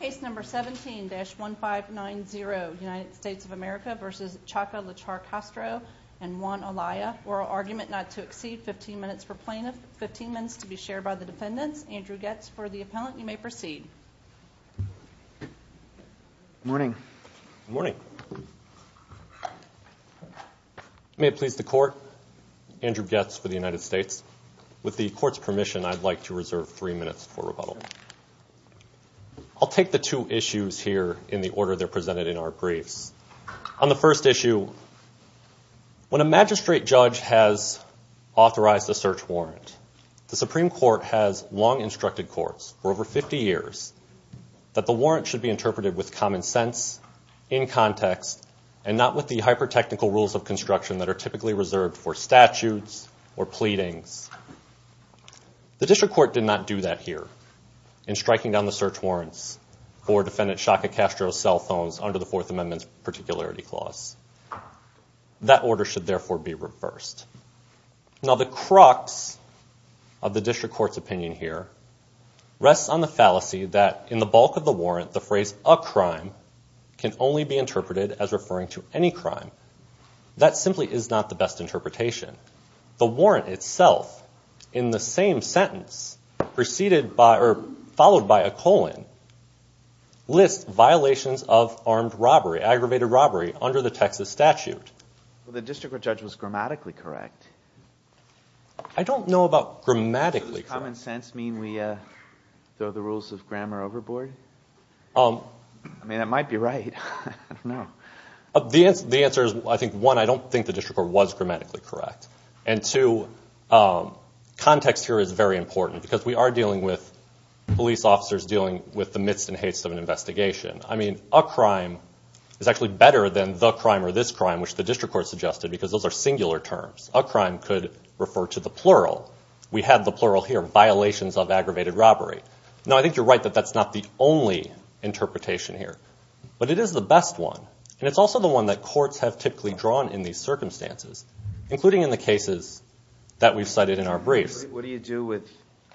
Case number 17-1590, United States of America v. Chaka Lachar Castro and Juan Alaya. Oral argument not to exceed 15 minutes per plaintiff, 15 minutes to be shared by the defendants. Andrew Goetz for the appellant. You may proceed. Good morning. Good morning. May it please the Court, Andrew Goetz for the United States. With the Court's permission, I'd like to reserve three minutes for rebuttal. I'll take the two issues here in the order they're presented in our briefs. On the first issue, when a magistrate judge has authorized a search warrant, the Supreme Court has long instructed courts for over 50 years that the warrant should be interpreted with common sense, in context, and not with the hyper-technical rules of construction that are typically reserved for statutes or pleadings. The District Court did not do that here in striking down the search warrants for Defendant Chaka Castro's cell phones under the Fourth Amendment's Particularity Clause. That order should therefore be reversed. Now, the crux of the District Court's opinion here rests on the fallacy that in the bulk of the warrant, the phrase, a crime, can only be interpreted as referring to any crime. That simply is not the best interpretation. The warrant itself, in the same sentence, preceded by or followed by a colon, lists violations of armed robbery, aggravated robbery, under the Texas statute. Well, the District Court judge was grammatically correct. I don't know about grammatically correct. Does common sense mean we throw the rules of grammar overboard? I mean, that might be right. I don't know. The answer is, I think, one, I don't think the District Court was grammatically correct. And two, context here is very important, because we are dealing with police officers dealing with the midst and haste of an investigation. I mean, a crime is actually better than the crime or this crime, which the District Court suggested, because those are singular terms. A crime could refer to the plural. We have the plural here, violations of aggravated robbery. Now, I think you're right that that's not the only interpretation here. But it is the best one. And it's also the one that courts have typically drawn in these circumstances, including in the cases that we've cited in our briefs. What do you do with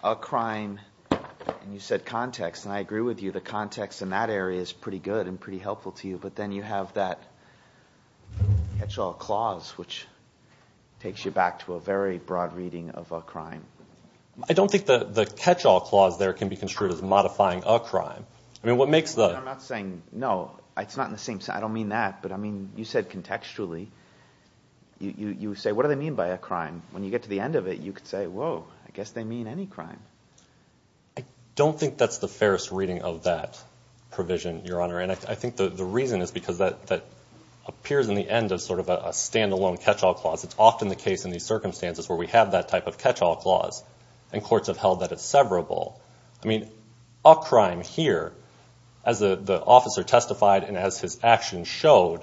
a crime? And you said context, and I agree with you. The context in that area is pretty good and pretty helpful to you. But then you have that catch-all clause, which takes you back to a very broad reading of a crime. I don't think the catch-all clause there can be construed as modifying a crime. I'm not saying, no, it's not in the same sense. I don't mean that. But, I mean, you said contextually. You say, what do they mean by a crime? When you get to the end of it, you could say, whoa, I guess they mean any crime. I don't think that's the fairest reading of that provision, Your Honor. And I think the reason is because that appears in the end as sort of a stand-alone catch-all clause. It's often the case in these circumstances where we have that type of catch-all clause, and courts have held that it's severable. I mean, a crime here, as the officer testified and as his actions showed,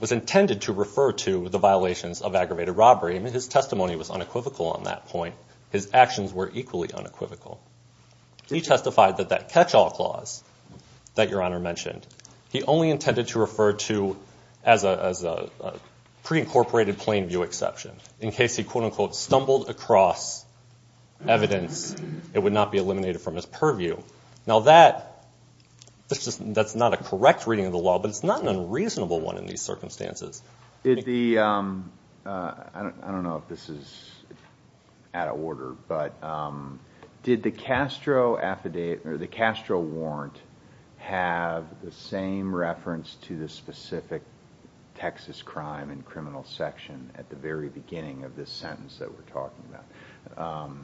was intended to refer to the violations of aggravated robbery. I mean, his testimony was unequivocal on that point. His actions were equally unequivocal. He testified that that catch-all clause that Your Honor mentioned, he only intended to refer to as a pre-incorporated plain view exception, in case he, quote-unquote, stumbled across evidence, it would not be eliminated from his purview. Now, that's not a correct reading of the law, but it's not an unreasonable one in these circumstances. I don't know if this is out of order, but did the Castro affidavit, or the Castro warrant, have the same reference to the specific Texas crime and criminal section at the very beginning of this sentence that we're talking about?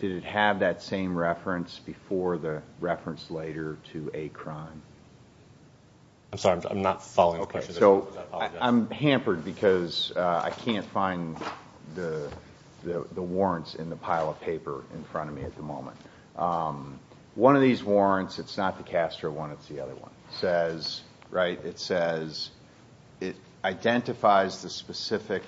Did it have that same reference before the reference later to a crime? I'm sorry, I'm not following the question. I'm hampered because I can't find the warrants in the pile of paper in front of me at the moment. One of these warrants, it's not the Castro one, it's the other one, it says it identifies the specific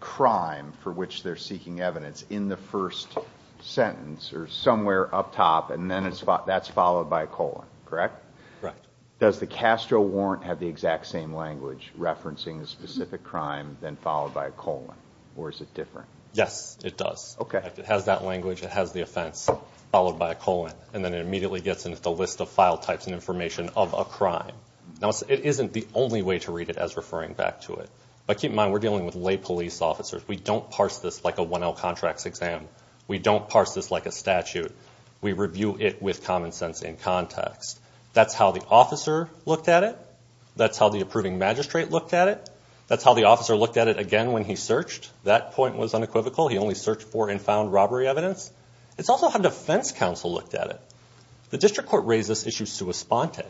crime for which they're seeking evidence in the first sentence or somewhere up top, and then that's followed by a colon, correct? Correct. Does the Castro warrant have the exact same language referencing the specific crime, then followed by a colon, or is it different? Yes, it does. Okay. Correct. It has that language, it has the offense, followed by a colon, and then it immediately gets into the list of file types and information of a crime. Now, it isn't the only way to read it as referring back to it, but keep in mind we're dealing with lay police officers. We don't parse this like a 1L contracts exam. We don't parse this like a statute. We review it with common sense and context. That's how the officer looked at it. That's how the approving magistrate looked at it. That's how the officer looked at it again when he searched. That point was unequivocal. He only searched for and found robbery evidence. It's also how defense counsel looked at it. The district court raised this issue sua sponte.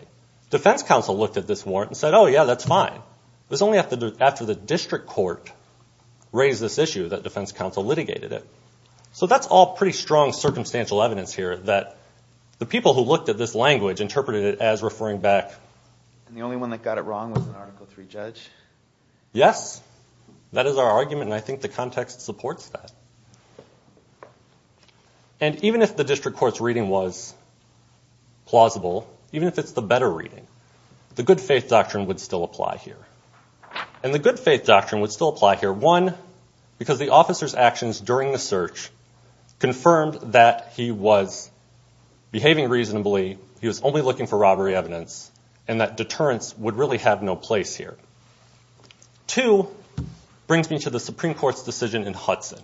Defense counsel looked at this warrant and said, oh, yeah, that's fine. It was only after the district court raised this issue that defense counsel litigated it. So that's all pretty strong circumstantial evidence here that the people who looked at this language interpreted it as referring back. And the only one that got it wrong was an Article III judge? Yes, that is our argument, and I think the context supports that. And even if the district court's reading was plausible, even if it's the better reading, the good faith doctrine would still apply here. And the good faith doctrine would still apply here, one, because the officer's actions during the search confirmed that he was behaving reasonably, he was only looking for robbery evidence, and that deterrence would really have no place here. Two brings me to the Supreme Court's decision in Hudson,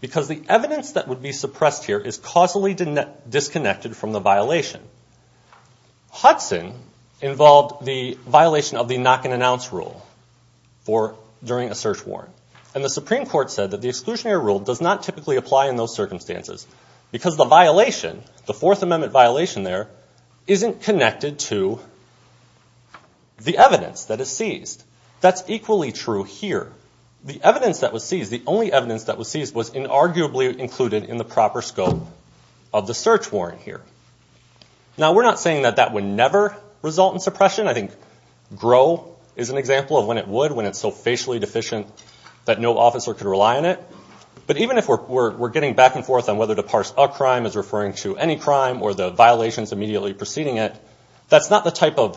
because the evidence that would be suppressed here is causally disconnected from the violation. Hudson involved the violation of the knock-and-announce rule during a search warrant, and the Supreme Court said that the exclusionary rule does not typically apply in those circumstances because the violation, the Fourth Amendment violation there, isn't connected to the evidence that is seized. That's equally true here. The evidence that was seized, the only evidence that was seized, was inarguably included in the proper scope of the search warrant here. Now, we're not saying that that would never result in suppression. I think GROW is an example of when it would, when it's so facially deficient that no officer could rely on it. But even if we're getting back and forth on whether to parse a crime as referring to any crime or the violations immediately preceding it, that's not the type of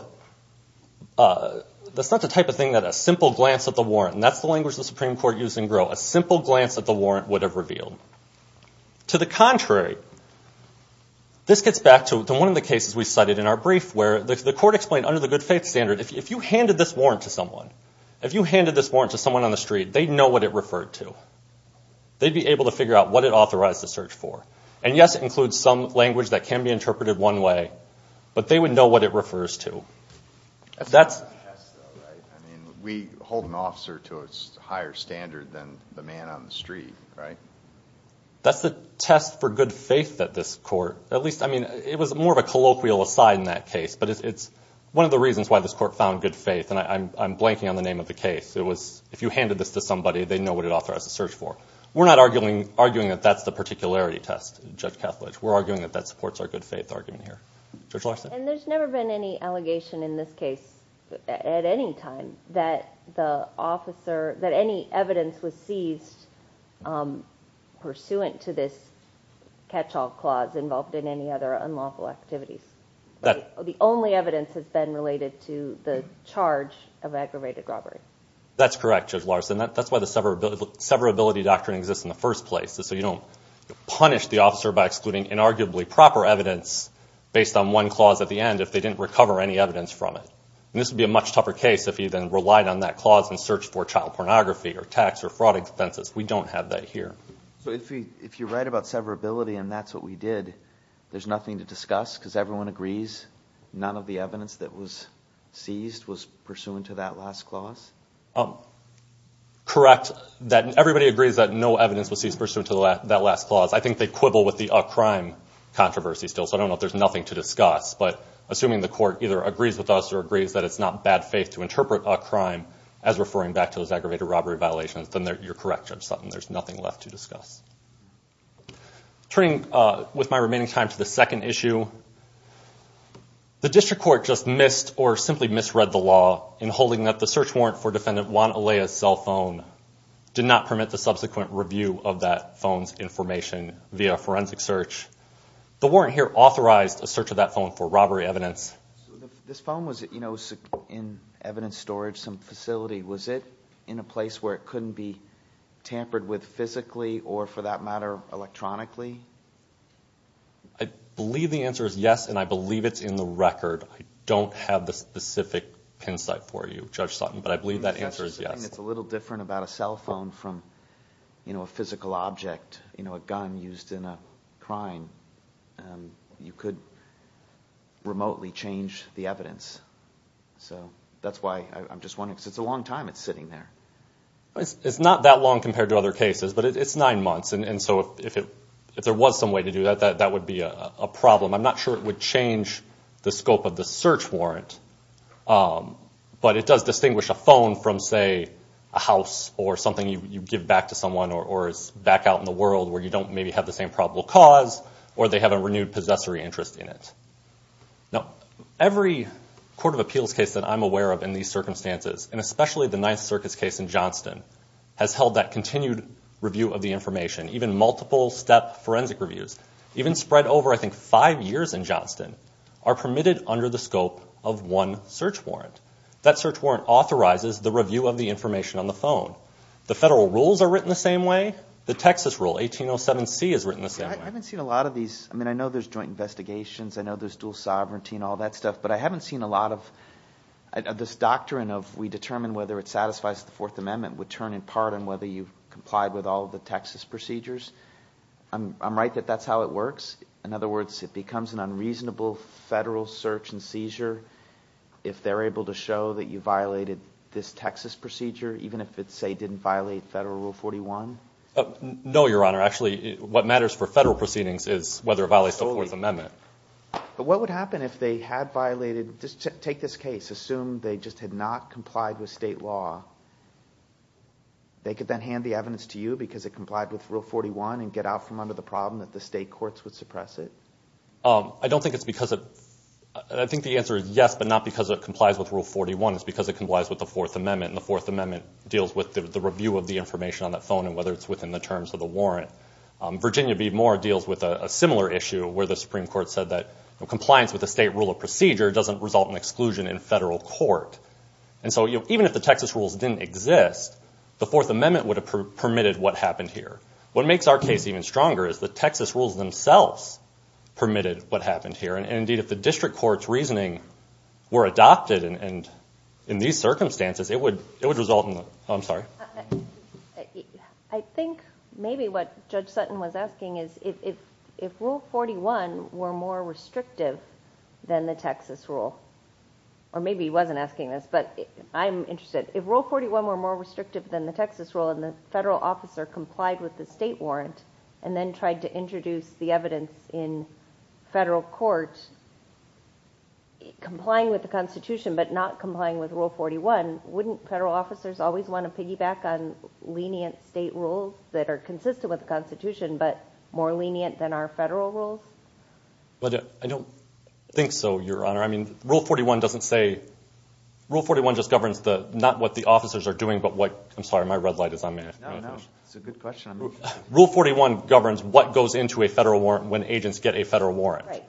thing that a simple glance at the warrant, and that's the language the Supreme Court used in GROW, a simple glance at the warrant would have revealed. To the contrary, this gets back to one of the cases we cited in our brief, where the court explained under the good faith standard, if you handed this warrant to someone, if you handed this warrant to someone on the street, they'd know what it referred to. They'd be able to figure out what it authorized the search for. And, yes, it includes some language that can be interpreted one way, but they would know what it refers to. That's the test, though, right? I mean, we hold an officer to a higher standard than the man on the street, right? That's the test for good faith at this court. At least, I mean, it was more of a colloquial aside in that case, but it's one of the reasons why this court found good faith. And I'm blanking on the name of the case. It was, if you handed this to somebody, they'd know what it authorized the search for. We're not arguing that that's the particularity test, Judge Kethledge. We're arguing that that supports our good faith argument here. Judge Larson. And there's never been any allegation in this case at any time that the officer, that any evidence was seized pursuant to this catch-all clause involved in any other unlawful activities. The only evidence has been related to the charge of aggravated robbery. That's correct, Judge Larson. That's why the severability doctrine exists in the first place, so you don't punish the officer by excluding inarguably proper evidence based on one clause at the end if they didn't recover any evidence from it. And this would be a much tougher case if he then relied on that clause in search for child pornography or tax or fraud offenses. We don't have that here. So if you're right about severability and that's what we did, there's nothing to discuss because everyone agrees none of the evidence that was seized was pursuant to that last clause? Correct. Everybody agrees that no evidence was seized pursuant to that last clause. I think they quibble with the a crime controversy still, so I don't know if there's nothing to discuss. But assuming the court either agrees with us or agrees that it's not bad faith to interpret a crime as referring back to those aggravated robbery violations, then you're correct, Judge Sutton. There's nothing left to discuss. Turning with my remaining time to the second issue, the district court just missed or simply misread the law in holding that the search warrant for Defendant Juan Alea's cell phone did not permit the subsequent review of that phone's information via a forensic search. The warrant here authorized a search of that phone for robbery evidence. This phone was in evidence storage, some facility. Was it in a place where it couldn't be tampered with physically or, for that matter, electronically? I believe the answer is yes, and I believe it's in the record. I don't have the specific hindsight for you, Judge Sutton, but I believe that answer is yes. It's a little different about a cell phone from a physical object, a gun used in a crime. You could remotely change the evidence. That's why I'm just wondering, because it's a long time it's sitting there. It's not that long compared to other cases, but it's nine months, and so if there was some way to do that, that would be a problem. I'm not sure it would change the scope of the search warrant, but it does distinguish a phone from, say, a house or something you give back to someone or is back out in the world where you don't maybe have the same probable cause or they have a renewed possessory interest in it. Every court of appeals case that I'm aware of in these circumstances, and especially the Ninth Circus case in Johnston, has held that continued review of the information, even multiple-step forensic reviews, even spread over, I think, five years in Johnston, are permitted under the scope of one search warrant. That search warrant authorizes the review of the information on the phone. The federal rules are written the same way. The Texas rule, 1807C, is written the same way. I haven't seen a lot of these. I mean, I know there's joint investigations, I know there's dual sovereignty and all that stuff, but I haven't seen a lot of this doctrine of we determine whether it satisfies the Fourth Amendment would turn in part on whether you complied with all of the Texas procedures. I'm right that that's how it works. In other words, it becomes an unreasonable federal search and seizure if they're able to show that you violated this Texas procedure, even if it, say, didn't violate Federal Rule 41? No, Your Honor. Actually, what matters for federal proceedings is whether it violates the Fourth Amendment. But what would happen if they had violated, just take this case, assume they just had not complied with state law? They could then hand the evidence to you because it complied with Rule 41 and get out from under the problem that the state courts would suppress it? I don't think it's because of that. I think the answer is yes, but not because it complies with Rule 41. It's because it complies with the Fourth Amendment, and the Fourth Amendment deals with the review of the information on that phone and whether it's within the terms of the warrant. Virginia B. Moore deals with a similar issue where the Supreme Court said that compliance with the state rule of procedure doesn't result in exclusion in federal court. And so even if the Texas rules didn't exist, the Fourth Amendment would have permitted what happened here. What makes our case even stronger is the Texas rules themselves permitted what happened here. And, indeed, if the district court's reasoning were adopted in these circumstances, it would result in that. Oh, I'm sorry. I think maybe what Judge Sutton was asking is if Rule 41 were more restrictive than the Texas rule. Or maybe he wasn't asking this, but I'm interested. If Rule 41 were more restrictive than the Texas rule and the federal officer complied with the state warrant and then tried to introduce the evidence in federal court, complying with the Constitution but not complying with Rule 41, wouldn't federal officers always want to piggyback on lenient state rules that are consistent with the Constitution but more lenient than our federal rules? I don't think so, Your Honor. I mean, Rule 41 doesn't say – Rule 41 just governs not what the officers are doing, but what – I'm sorry, my red light is on me. No, no, it's a good question. Rule 41 governs what goes into a federal warrant when agents get a federal warrant. Right.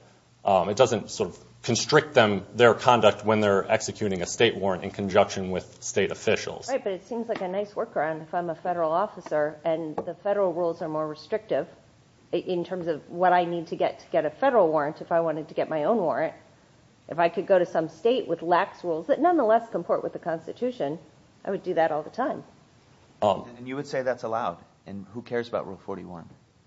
It doesn't sort of constrict them, their conduct, when they're executing a state warrant in conjunction with state officials. Right, but it seems like a nice workaround if I'm a federal officer and the federal rules are more restrictive in terms of what I need to get to get a federal warrant if I wanted to get my own warrant. If I could go to some state with lax rules that nonetheless comport with the Constitution, I would do that all the time. And you would say that's allowed? And who cares about Rule 41?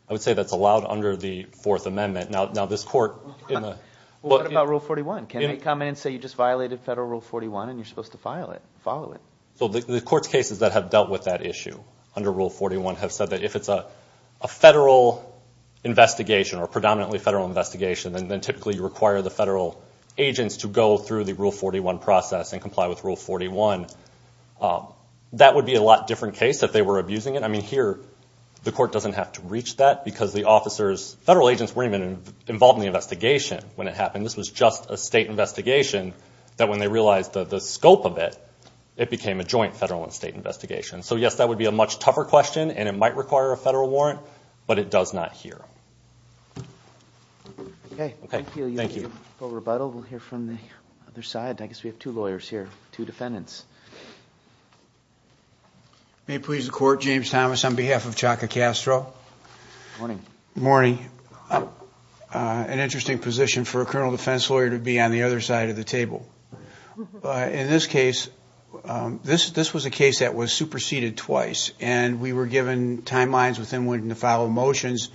I would say that's allowed under the Fourth Amendment. Now, this court in the – What about Rule 41? Can they come in and say you just violated federal Rule 41 and you're supposed to file it, follow it? So the court's cases that have dealt with that issue under Rule 41 have said that if it's a federal investigation or a predominantly federal investigation, then typically you require the federal agents to go through the Rule 41 process and comply with Rule 41. That would be a lot different case if they were abusing it. I mean, here the court doesn't have to reach that because the officers – involved in the investigation when it happened. This was just a state investigation that when they realized the scope of it, it became a joint federal and state investigation. So, yes, that would be a much tougher question, and it might require a federal warrant, but it does not here. Okay. Thank you. We'll hear from the other side. I guess we have two lawyers here, two defendants. May it please the Court, James Thomas on behalf of Chaka Castro. Morning. Morning. An interesting position for a criminal defense lawyer to be on the other side of the table. In this case, this was a case that was superseded twice, and we were given timelines with them wanting to follow motions,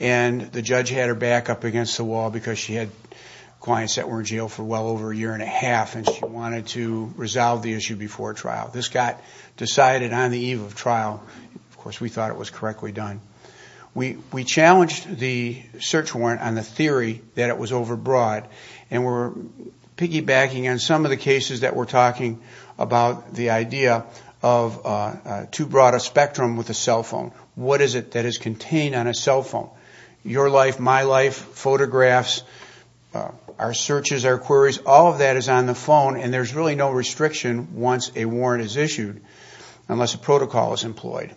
and the judge had her back up against the wall because she had clients that were in jail for well over a year and a half, and she wanted to resolve the issue before trial. This got decided on the eve of trial. Of course, we thought it was correctly done. We challenged the search warrant on the theory that it was overbroad, and we're piggybacking on some of the cases that we're talking about, the idea of too broad a spectrum with a cell phone. What is it that is contained on a cell phone? Your life, my life, photographs, our searches, our queries, all of that is on the phone, and there's really no restriction once a warrant is issued unless a protocol is employed.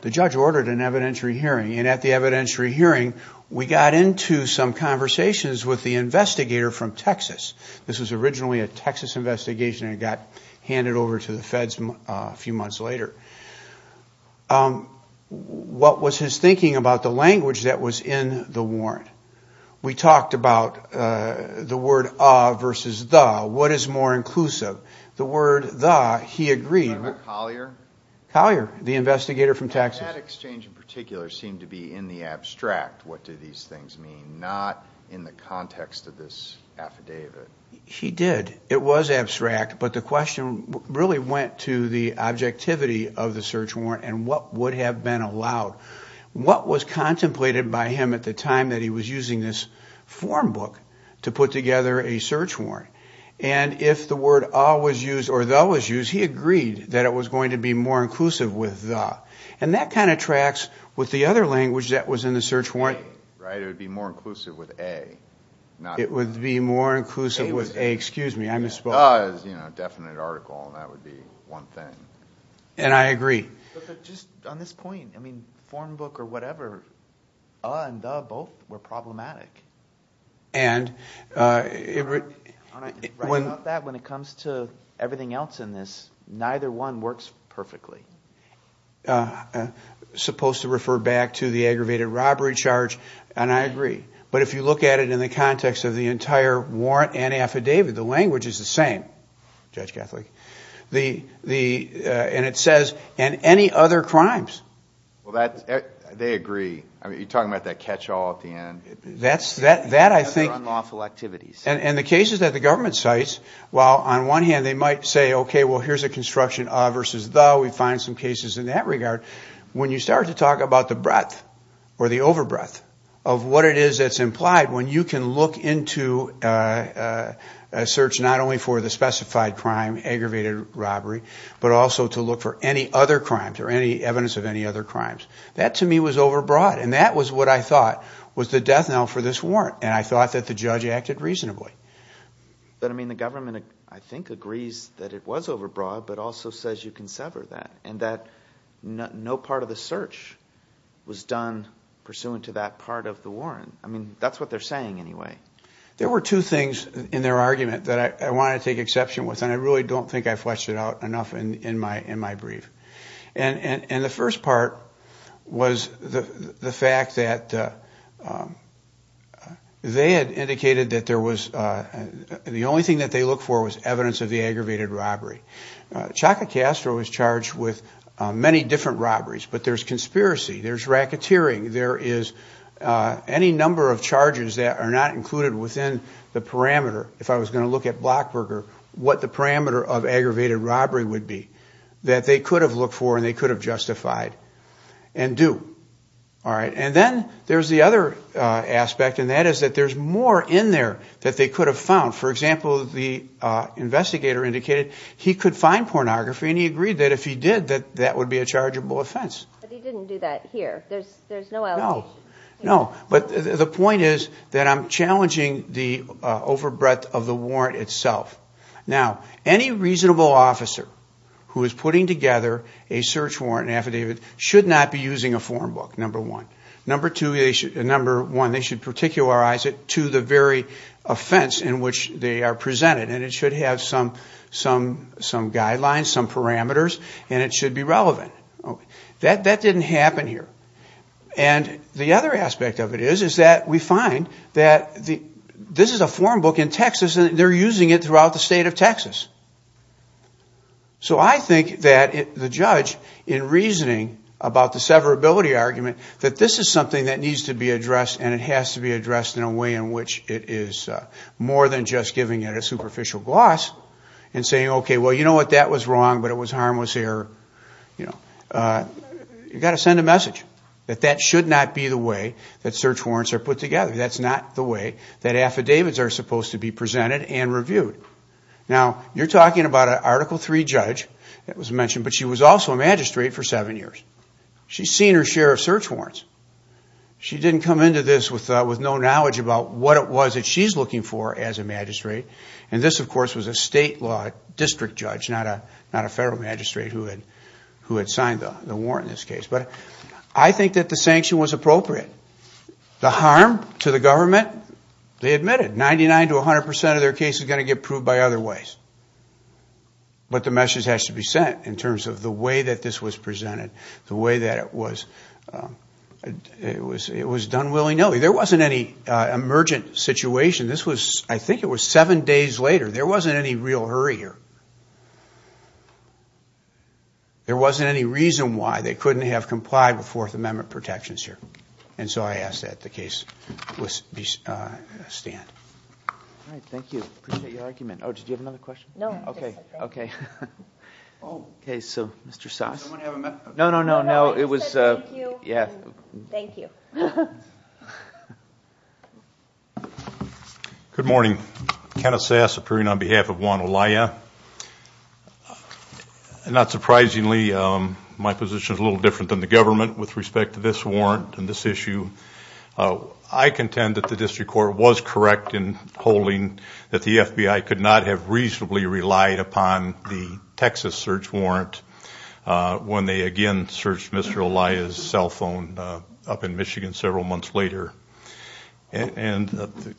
The judge ordered an evidentiary hearing, and at the evidentiary hearing, we got into some conversations with the investigator from Texas. This was originally a Texas investigation, and it got handed over to the feds a few months later. What was his thinking about the language that was in the warrant? We talked about the word of versus the. What is more inclusive? The word the, he agreed. Collier? Collier, the investigator from Texas. That exchange in particular seemed to be in the abstract, what do these things mean, not in the context of this affidavit. He did. It was abstract, but the question really went to the objectivity of the search warrant and what would have been allowed. What was contemplated by him at the time that he was using this form book to put together a search warrant? If the word a was used or the was used, he agreed that it was going to be more inclusive with the. That kind of tracks with the other language that was in the search warrant. It would be more inclusive with a. It would be more inclusive with a, excuse me, I misspoke. The is a definite article, and that would be one thing. I agree. On this point, form book or whatever, a and the both were problematic. When it comes to everything else in this, neither one works perfectly. Supposed to refer back to the aggravated robbery charge, and I agree. But if you look at it in the context of the entire warrant and affidavit, the language is the same, Judge Catholic. And it says, and any other crimes. They agree. You're talking about that catch-all at the end. That I think. Unlawful activities. And the cases that the government cites, while on one hand they might say, okay, well here's a construction of versus the. We find some cases in that regard. When you start to talk about the breadth or the over breadth of what it is that's implied, when you can look into a search not only for the specified crime, aggravated robbery, but also to look for any other crimes or any evidence of any other crimes. That to me was over broad, and that was what I thought was the death knell for this warrant. And I thought that the judge acted reasonably. But, I mean, the government, I think, agrees that it was over broad, but also says you can sever that. And that no part of the search was done pursuant to that part of the warrant. I mean, that's what they're saying anyway. There were two things in their argument that I want to take exception with, and I really don't think I fleshed it out enough in my brief. And the first part was the fact that they had indicated that there was, the only thing that they looked for was evidence of the aggravated robbery. Chaka Castro was charged with many different robberies, but there's conspiracy. There's racketeering. There is any number of charges that are not included within the parameter, if I was going to look at Blockberger, what the parameter of aggravated robbery would be, that they could have looked for and they could have justified and do. And then there's the other aspect, and that is that there's more in there that they could have found. For example, the investigator indicated he could find pornography, and he agreed that if he did, that that would be a chargeable offense. But he didn't do that here. There's no allegation. No, but the point is that I'm challenging the overbreadth of the warrant itself. Now, any reasonable officer who is putting together a search warrant affidavit should not be using a form book, number one. Number one, they should particularize it to the very offense in which they are presented, and it should have some guidelines, some parameters, and it should be relevant. That didn't happen here. And the other aspect of it is that we find that this is a form book in Texas, and they're using it throughout the state of Texas. So I think that the judge, in reasoning about the severability argument, that this is something that needs to be addressed, and it has to be addressed in a way in which it is more than just giving it a superficial gloss and saying, okay, well, you know what, that was wrong, but it was harmless error. You've got to send a message that that should not be the way that search warrants are put together. That's not the way that affidavits are supposed to be presented and reviewed. Now, you're talking about an Article III judge that was mentioned, but she was also a magistrate for seven years. She's seen her share of search warrants. She didn't come into this with no knowledge about what it was that she's looking for as a magistrate. And this, of course, was a state law district judge, not a federal magistrate, who had signed the warrant in this case. But I think that the sanction was appropriate. The harm to the government, they admitted. Ninety-nine to 100% of their case is going to get proved by other ways. But the message has to be sent in terms of the way that this was presented, the way that it was done willy-nilly. There wasn't any emergent situation. This was, I think it was seven days later. There wasn't any real hurry here. There wasn't any reason why they couldn't have complied with Fourth Amendment protections here. And so I ask that the case stand. All right, thank you. Appreciate your argument. Oh, did you have another question? No. Okay. Okay. Okay, so Mr. Sass. No, no, no, no. It was. Thank you. Yeah. Thank you. Good morning. Kenneth Sass, appearing on behalf of Juan Olaya. Not surprisingly, my position is a little different than the government with respect to this warrant and this issue. I contend that the district court was correct in holding that the FBI could not have reasonably relied upon the Texas search warrant when they, again, searched Mr. Olaya's cell phone up in Michigan several months later. And the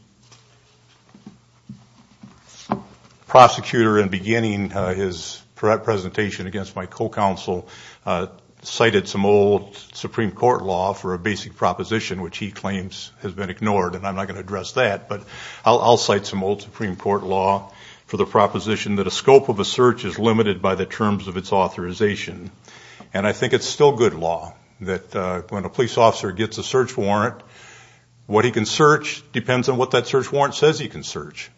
prosecutor in beginning his presentation against my co-counsel cited some old Supreme Court law for a basic proposition, which he claims has been ignored, and I'm not going to address that. But I'll cite some old Supreme Court law for the proposition that a scope of a search is limited by the terms of its authorization. And I think it's still good law that when a police officer gets a search warrant, what he can search depends on what that search warrant says he can search.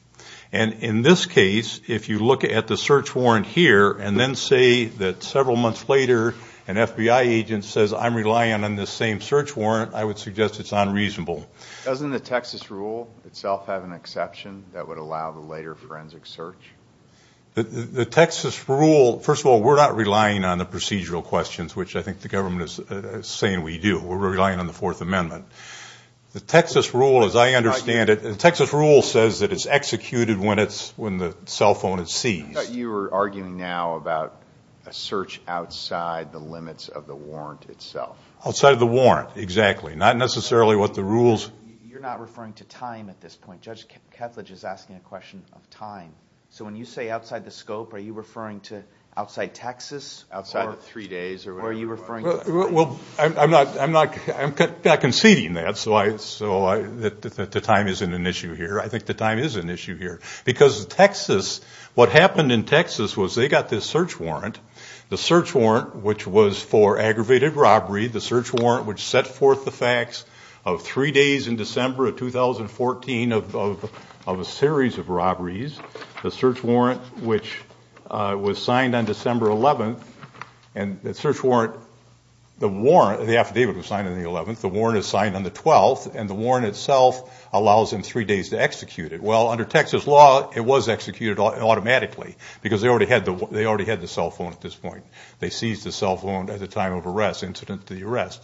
And in this case, if you look at the search warrant here and then say that several months later an FBI agent says, I'm relying on this same search warrant, I would suggest it's unreasonable. Doesn't the Texas rule itself have an exception that would allow the later forensic search? The Texas rule, first of all, we're not relying on the procedural questions, which I think the government is saying we do. We're relying on the Fourth Amendment. The Texas rule, as I understand it, the Texas rule says that it's executed when the cell phone is seized. You're arguing now about a search outside the limits of the warrant itself. Outside of the warrant, exactly. Not necessarily what the rules. You're not referring to time at this point. Judge Ketledge is asking a question of time. So when you say outside the scope, are you referring to outside Texas, outside of three days, or are you referring to time? Well, I'm not conceding that. So the time isn't an issue here. I think the time is an issue here. Because Texas, what happened in Texas was they got this search warrant, the search warrant which was for aggravated robbery, the search warrant which set forth the facts of three days in December of 2014 of a series of robberies, the search warrant which was signed on December 11th, and the search warrant, the warrant, the affidavit was signed on the 11th, the warrant is signed on the 12th, and the warrant itself allows them three days to execute it. Well, under Texas law, it was executed automatically because they already had the cell phone at this point. They seized the cell phone at the time of arrest, incident to the arrest.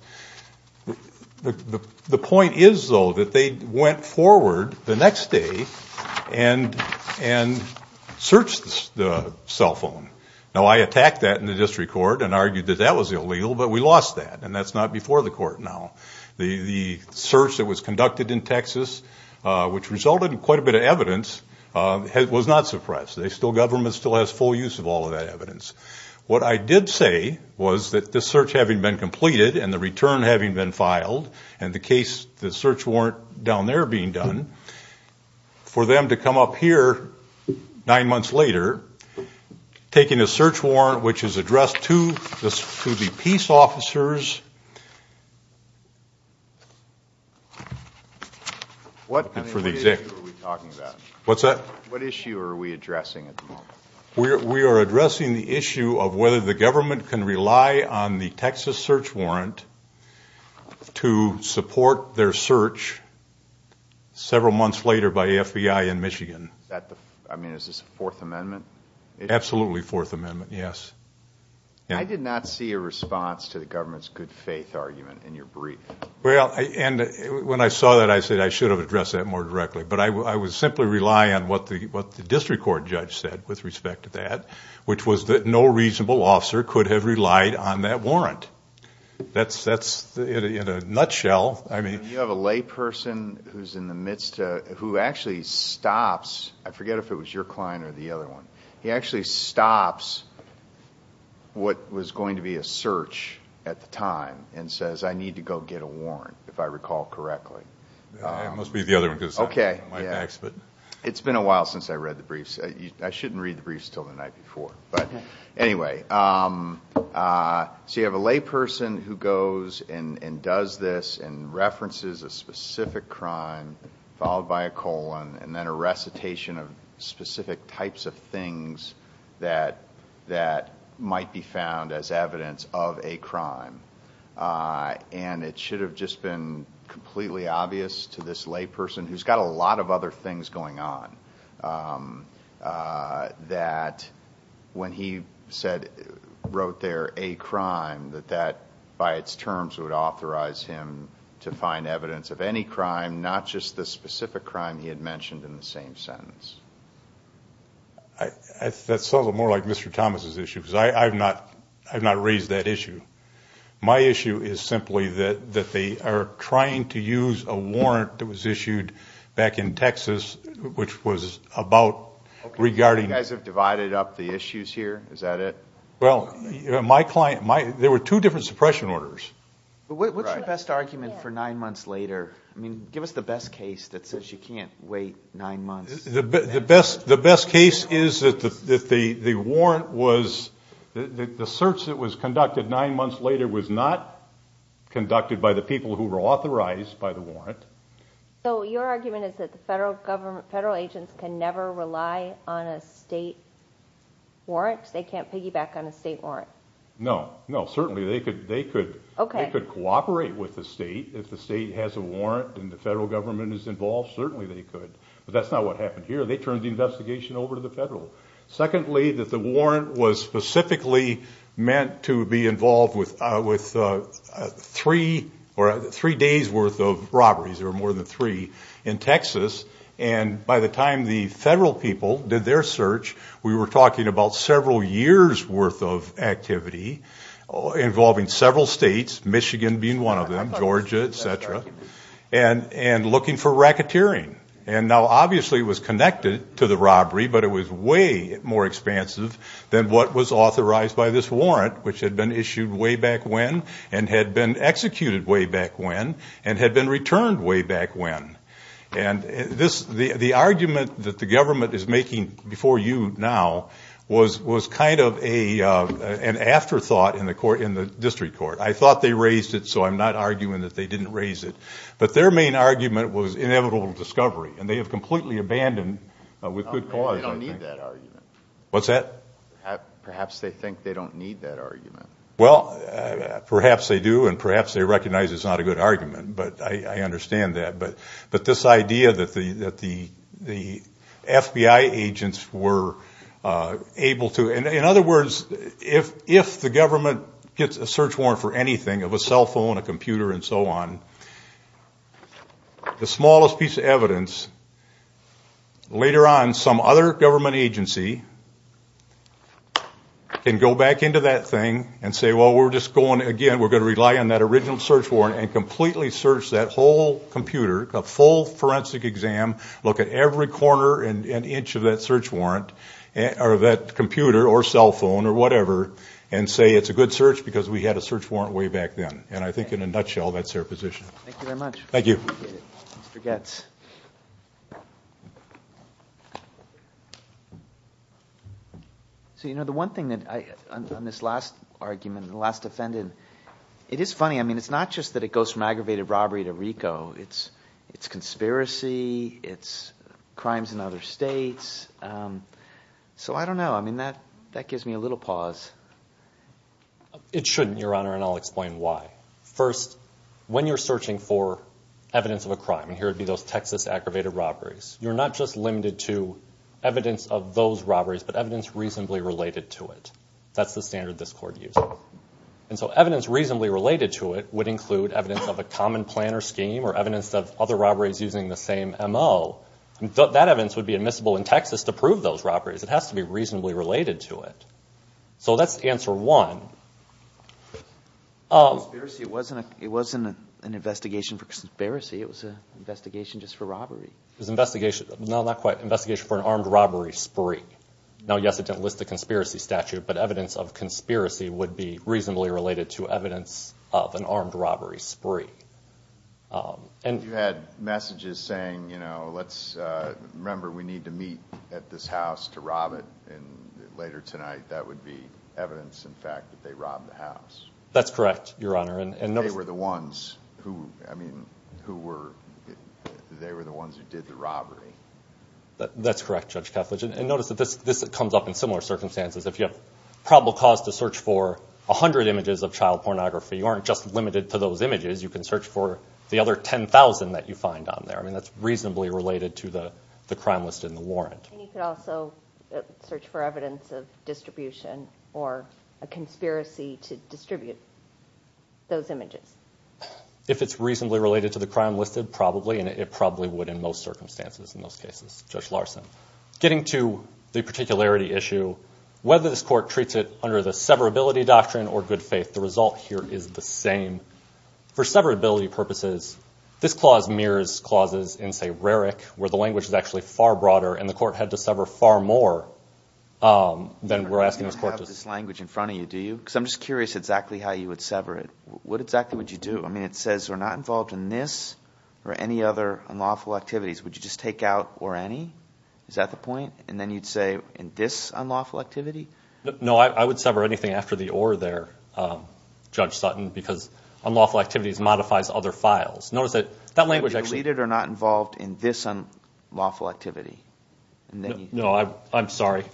The point is, though, that they went forward the next day and searched the cell phone. Now, I attacked that in the district court and argued that that was illegal, but we lost that, and that's not before the court now. The search that was conducted in Texas, which resulted in quite a bit of evidence, was not suppressed. The government still has full use of all of that evidence. What I did say was that this search having been completed and the return having been filed and the search warrant down there being done, for them to come up here nine months later, taking a search warrant which is addressed to the peace officers. What issue are we talking about? What's that? What issue are we addressing at the moment? We are addressing the issue of whether the government can rely on the Texas search warrant to support their search several months later by the FBI in Michigan. Is this the Fourth Amendment? Absolutely Fourth Amendment, yes. I did not see a response to the government's good faith argument in your brief. When I saw that, I said I should have addressed that more directly, but I would simply rely on what the district court judge said with respect to that, which was that no reasonable officer could have relied on that warrant. That's in a nutshell. You have a layperson who's in the midst of, who actually stops. I forget if it was your client or the other one. He actually stops what was going to be a search at the time and says, I need to go get a warrant, if I recall correctly. It must be the other one. It's been a while since I read the briefs. I shouldn't read the briefs until the night before. Anyway, so you have a layperson who goes and does this and references a specific crime, followed by a colon, and then a recitation of specific types of things that might be found as evidence of a crime. And it should have just been completely obvious to this layperson, who's got a lot of other things going on, that when he wrote there a crime, that that by its terms would authorize him to find evidence of any crime, not just the specific crime he had mentioned in the same sentence. That's a little more like Mr. Thomas' issue, because I've not raised that issue. My issue is simply that they are trying to use a warrant that was issued back in Texas, which was about regarding... You guys have divided up the issues here. Is that it? Well, my client, there were two different suppression orders. What's your best argument for nine months later? I mean, give us the best case that says you can't wait nine months. The best case is that the warrant was... The search that was conducted nine months later was not conducted by the people who were authorized by the warrant. So your argument is that the federal agents can never rely on a state warrant? They can't piggyback on a state warrant? No. No, certainly they could cooperate with the state. If the state has a warrant and the federal government is involved, certainly they could. But that's not what happened here. They turned the investigation over to the federal. Secondly, that the warrant was specifically meant to be involved with three days' worth of robberies. There were more than three in Texas. And by the time the federal people did their search, we were talking about several years' worth of activity involving several states, Michigan being one of them, Georgia, et cetera, and looking for racketeering. And now obviously it was connected to the robbery, but it was way more expansive than what was authorized by this warrant, which had been issued way back when and had been executed way back when and had been returned way back when. And the argument that the government is making before you now was kind of an afterthought in the district court. I thought they raised it, so I'm not arguing that they didn't raise it. But their main argument was inevitable discovery, and they have completely abandoned it with good cause. They don't need that argument. What's that? Perhaps they think they don't need that argument. Well, perhaps they do, and perhaps they recognize it's not a good argument, but I understand that. But this idea that the FBI agents were able to – the smallest piece of evidence, later on some other government agency can go back into that thing and say, well, we're just going again, we're going to rely on that original search warrant and completely search that whole computer, a full forensic exam, look at every corner and inch of that search warrant or that computer or cell phone or whatever, and say it's a good search because we had a search warrant way back then. And I think in a nutshell, that's their position. Thank you very much. Thank you. Mr. Goetz. So, you know, the one thing on this last argument, the last defendant, it is funny. I mean, it's not just that it goes from aggravated robbery to RICO. It's conspiracy. It's crimes in other states. So I don't know. I mean, that gives me a little pause. It shouldn't, Your Honor, and I'll explain why. First, when you're searching for evidence of a crime, and here would be those Texas aggravated robberies, you're not just limited to evidence of those robberies but evidence reasonably related to it. That's the standard this Court uses. And so evidence reasonably related to it would include evidence of a common plan or scheme or evidence of other robberies using the same MO. That evidence would be admissible in Texas to prove those robberies. It has to be reasonably related to it. So that's answer one. It wasn't an investigation for conspiracy. It was an investigation just for robbery. No, not quite. Investigation for an armed robbery spree. Now, yes, it didn't list a conspiracy statute, but evidence of conspiracy would be reasonably related to evidence of an armed robbery spree. You had messages saying, you know, let's remember we need to meet at this house to rob it, and later tonight that would be evidence, in fact, that they robbed the house. That's correct, Your Honor. They were the ones who did the robbery. That's correct, Judge Kethledge. And notice that this comes up in similar circumstances. If you have probable cause to search for 100 images of child pornography, you aren't just limited to those images. You can search for the other 10,000 that you find on there. I mean, that's reasonably related to the crime listed in the warrant. And you could also search for evidence of distribution or a conspiracy to distribute those images. If it's reasonably related to the crime listed, probably, and it probably would in most circumstances in most cases, Judge Larson. Getting to the particularity issue, whether this court treats it under the severability doctrine or good faith, the result here is the same. For severability purposes, this clause mirrors clauses in, say, RERIC, where the language is actually far broader, and the court had to sever far more than we're asking this court to. You don't have this language in front of you, do you? Because I'm just curious exactly how you would sever it. What exactly would you do? I mean, it says we're not involved in this or any other unlawful activities. Would you just take out or any? Is that the point? And then you'd say in this unlawful activity? No, I would sever anything after the or there, Judge Sutton, because unlawful activities modifies other files. Notice that that language actually. Deleted or not involved in this unlawful activity. No, I'm sorry.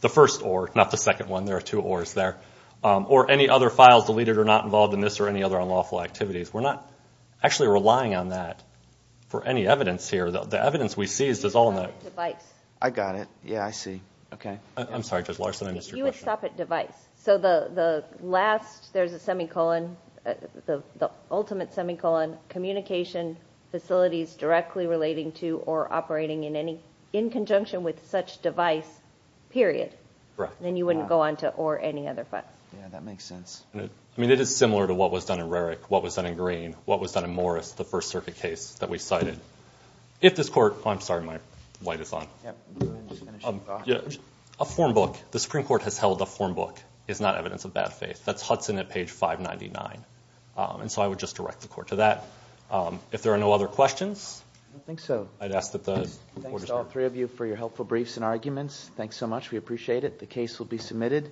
The first or, not the second one. There are two ors there. Or any other files deleted or not involved in this or any other unlawful activities. We're not actually relying on that for any evidence here. The evidence we see is all in that. I got it. Yeah, I see. Okay. I'm sorry, Judge Larson, I missed your question. You would stop at device. So the last, there's a semicolon, the ultimate semicolon, communication facilities directly relating to or operating in any, in conjunction with such device, period. Right. Then you wouldn't go on to or any other file. Yeah, that makes sense. I mean, it is similar to what was done in Roerich, what was done in Green, what was done in Morris, the First Circuit case that we cited. If this court, I'm sorry, my light is on. A form book, the Supreme Court has held a form book. It's not evidence of bad faith. That's Hudson at page 599. And so I would just direct the court to that. If there are no other questions. I don't think so. Thanks to all three of you for your helpful briefs and arguments. Thanks so much. We appreciate it. The case will be submitted.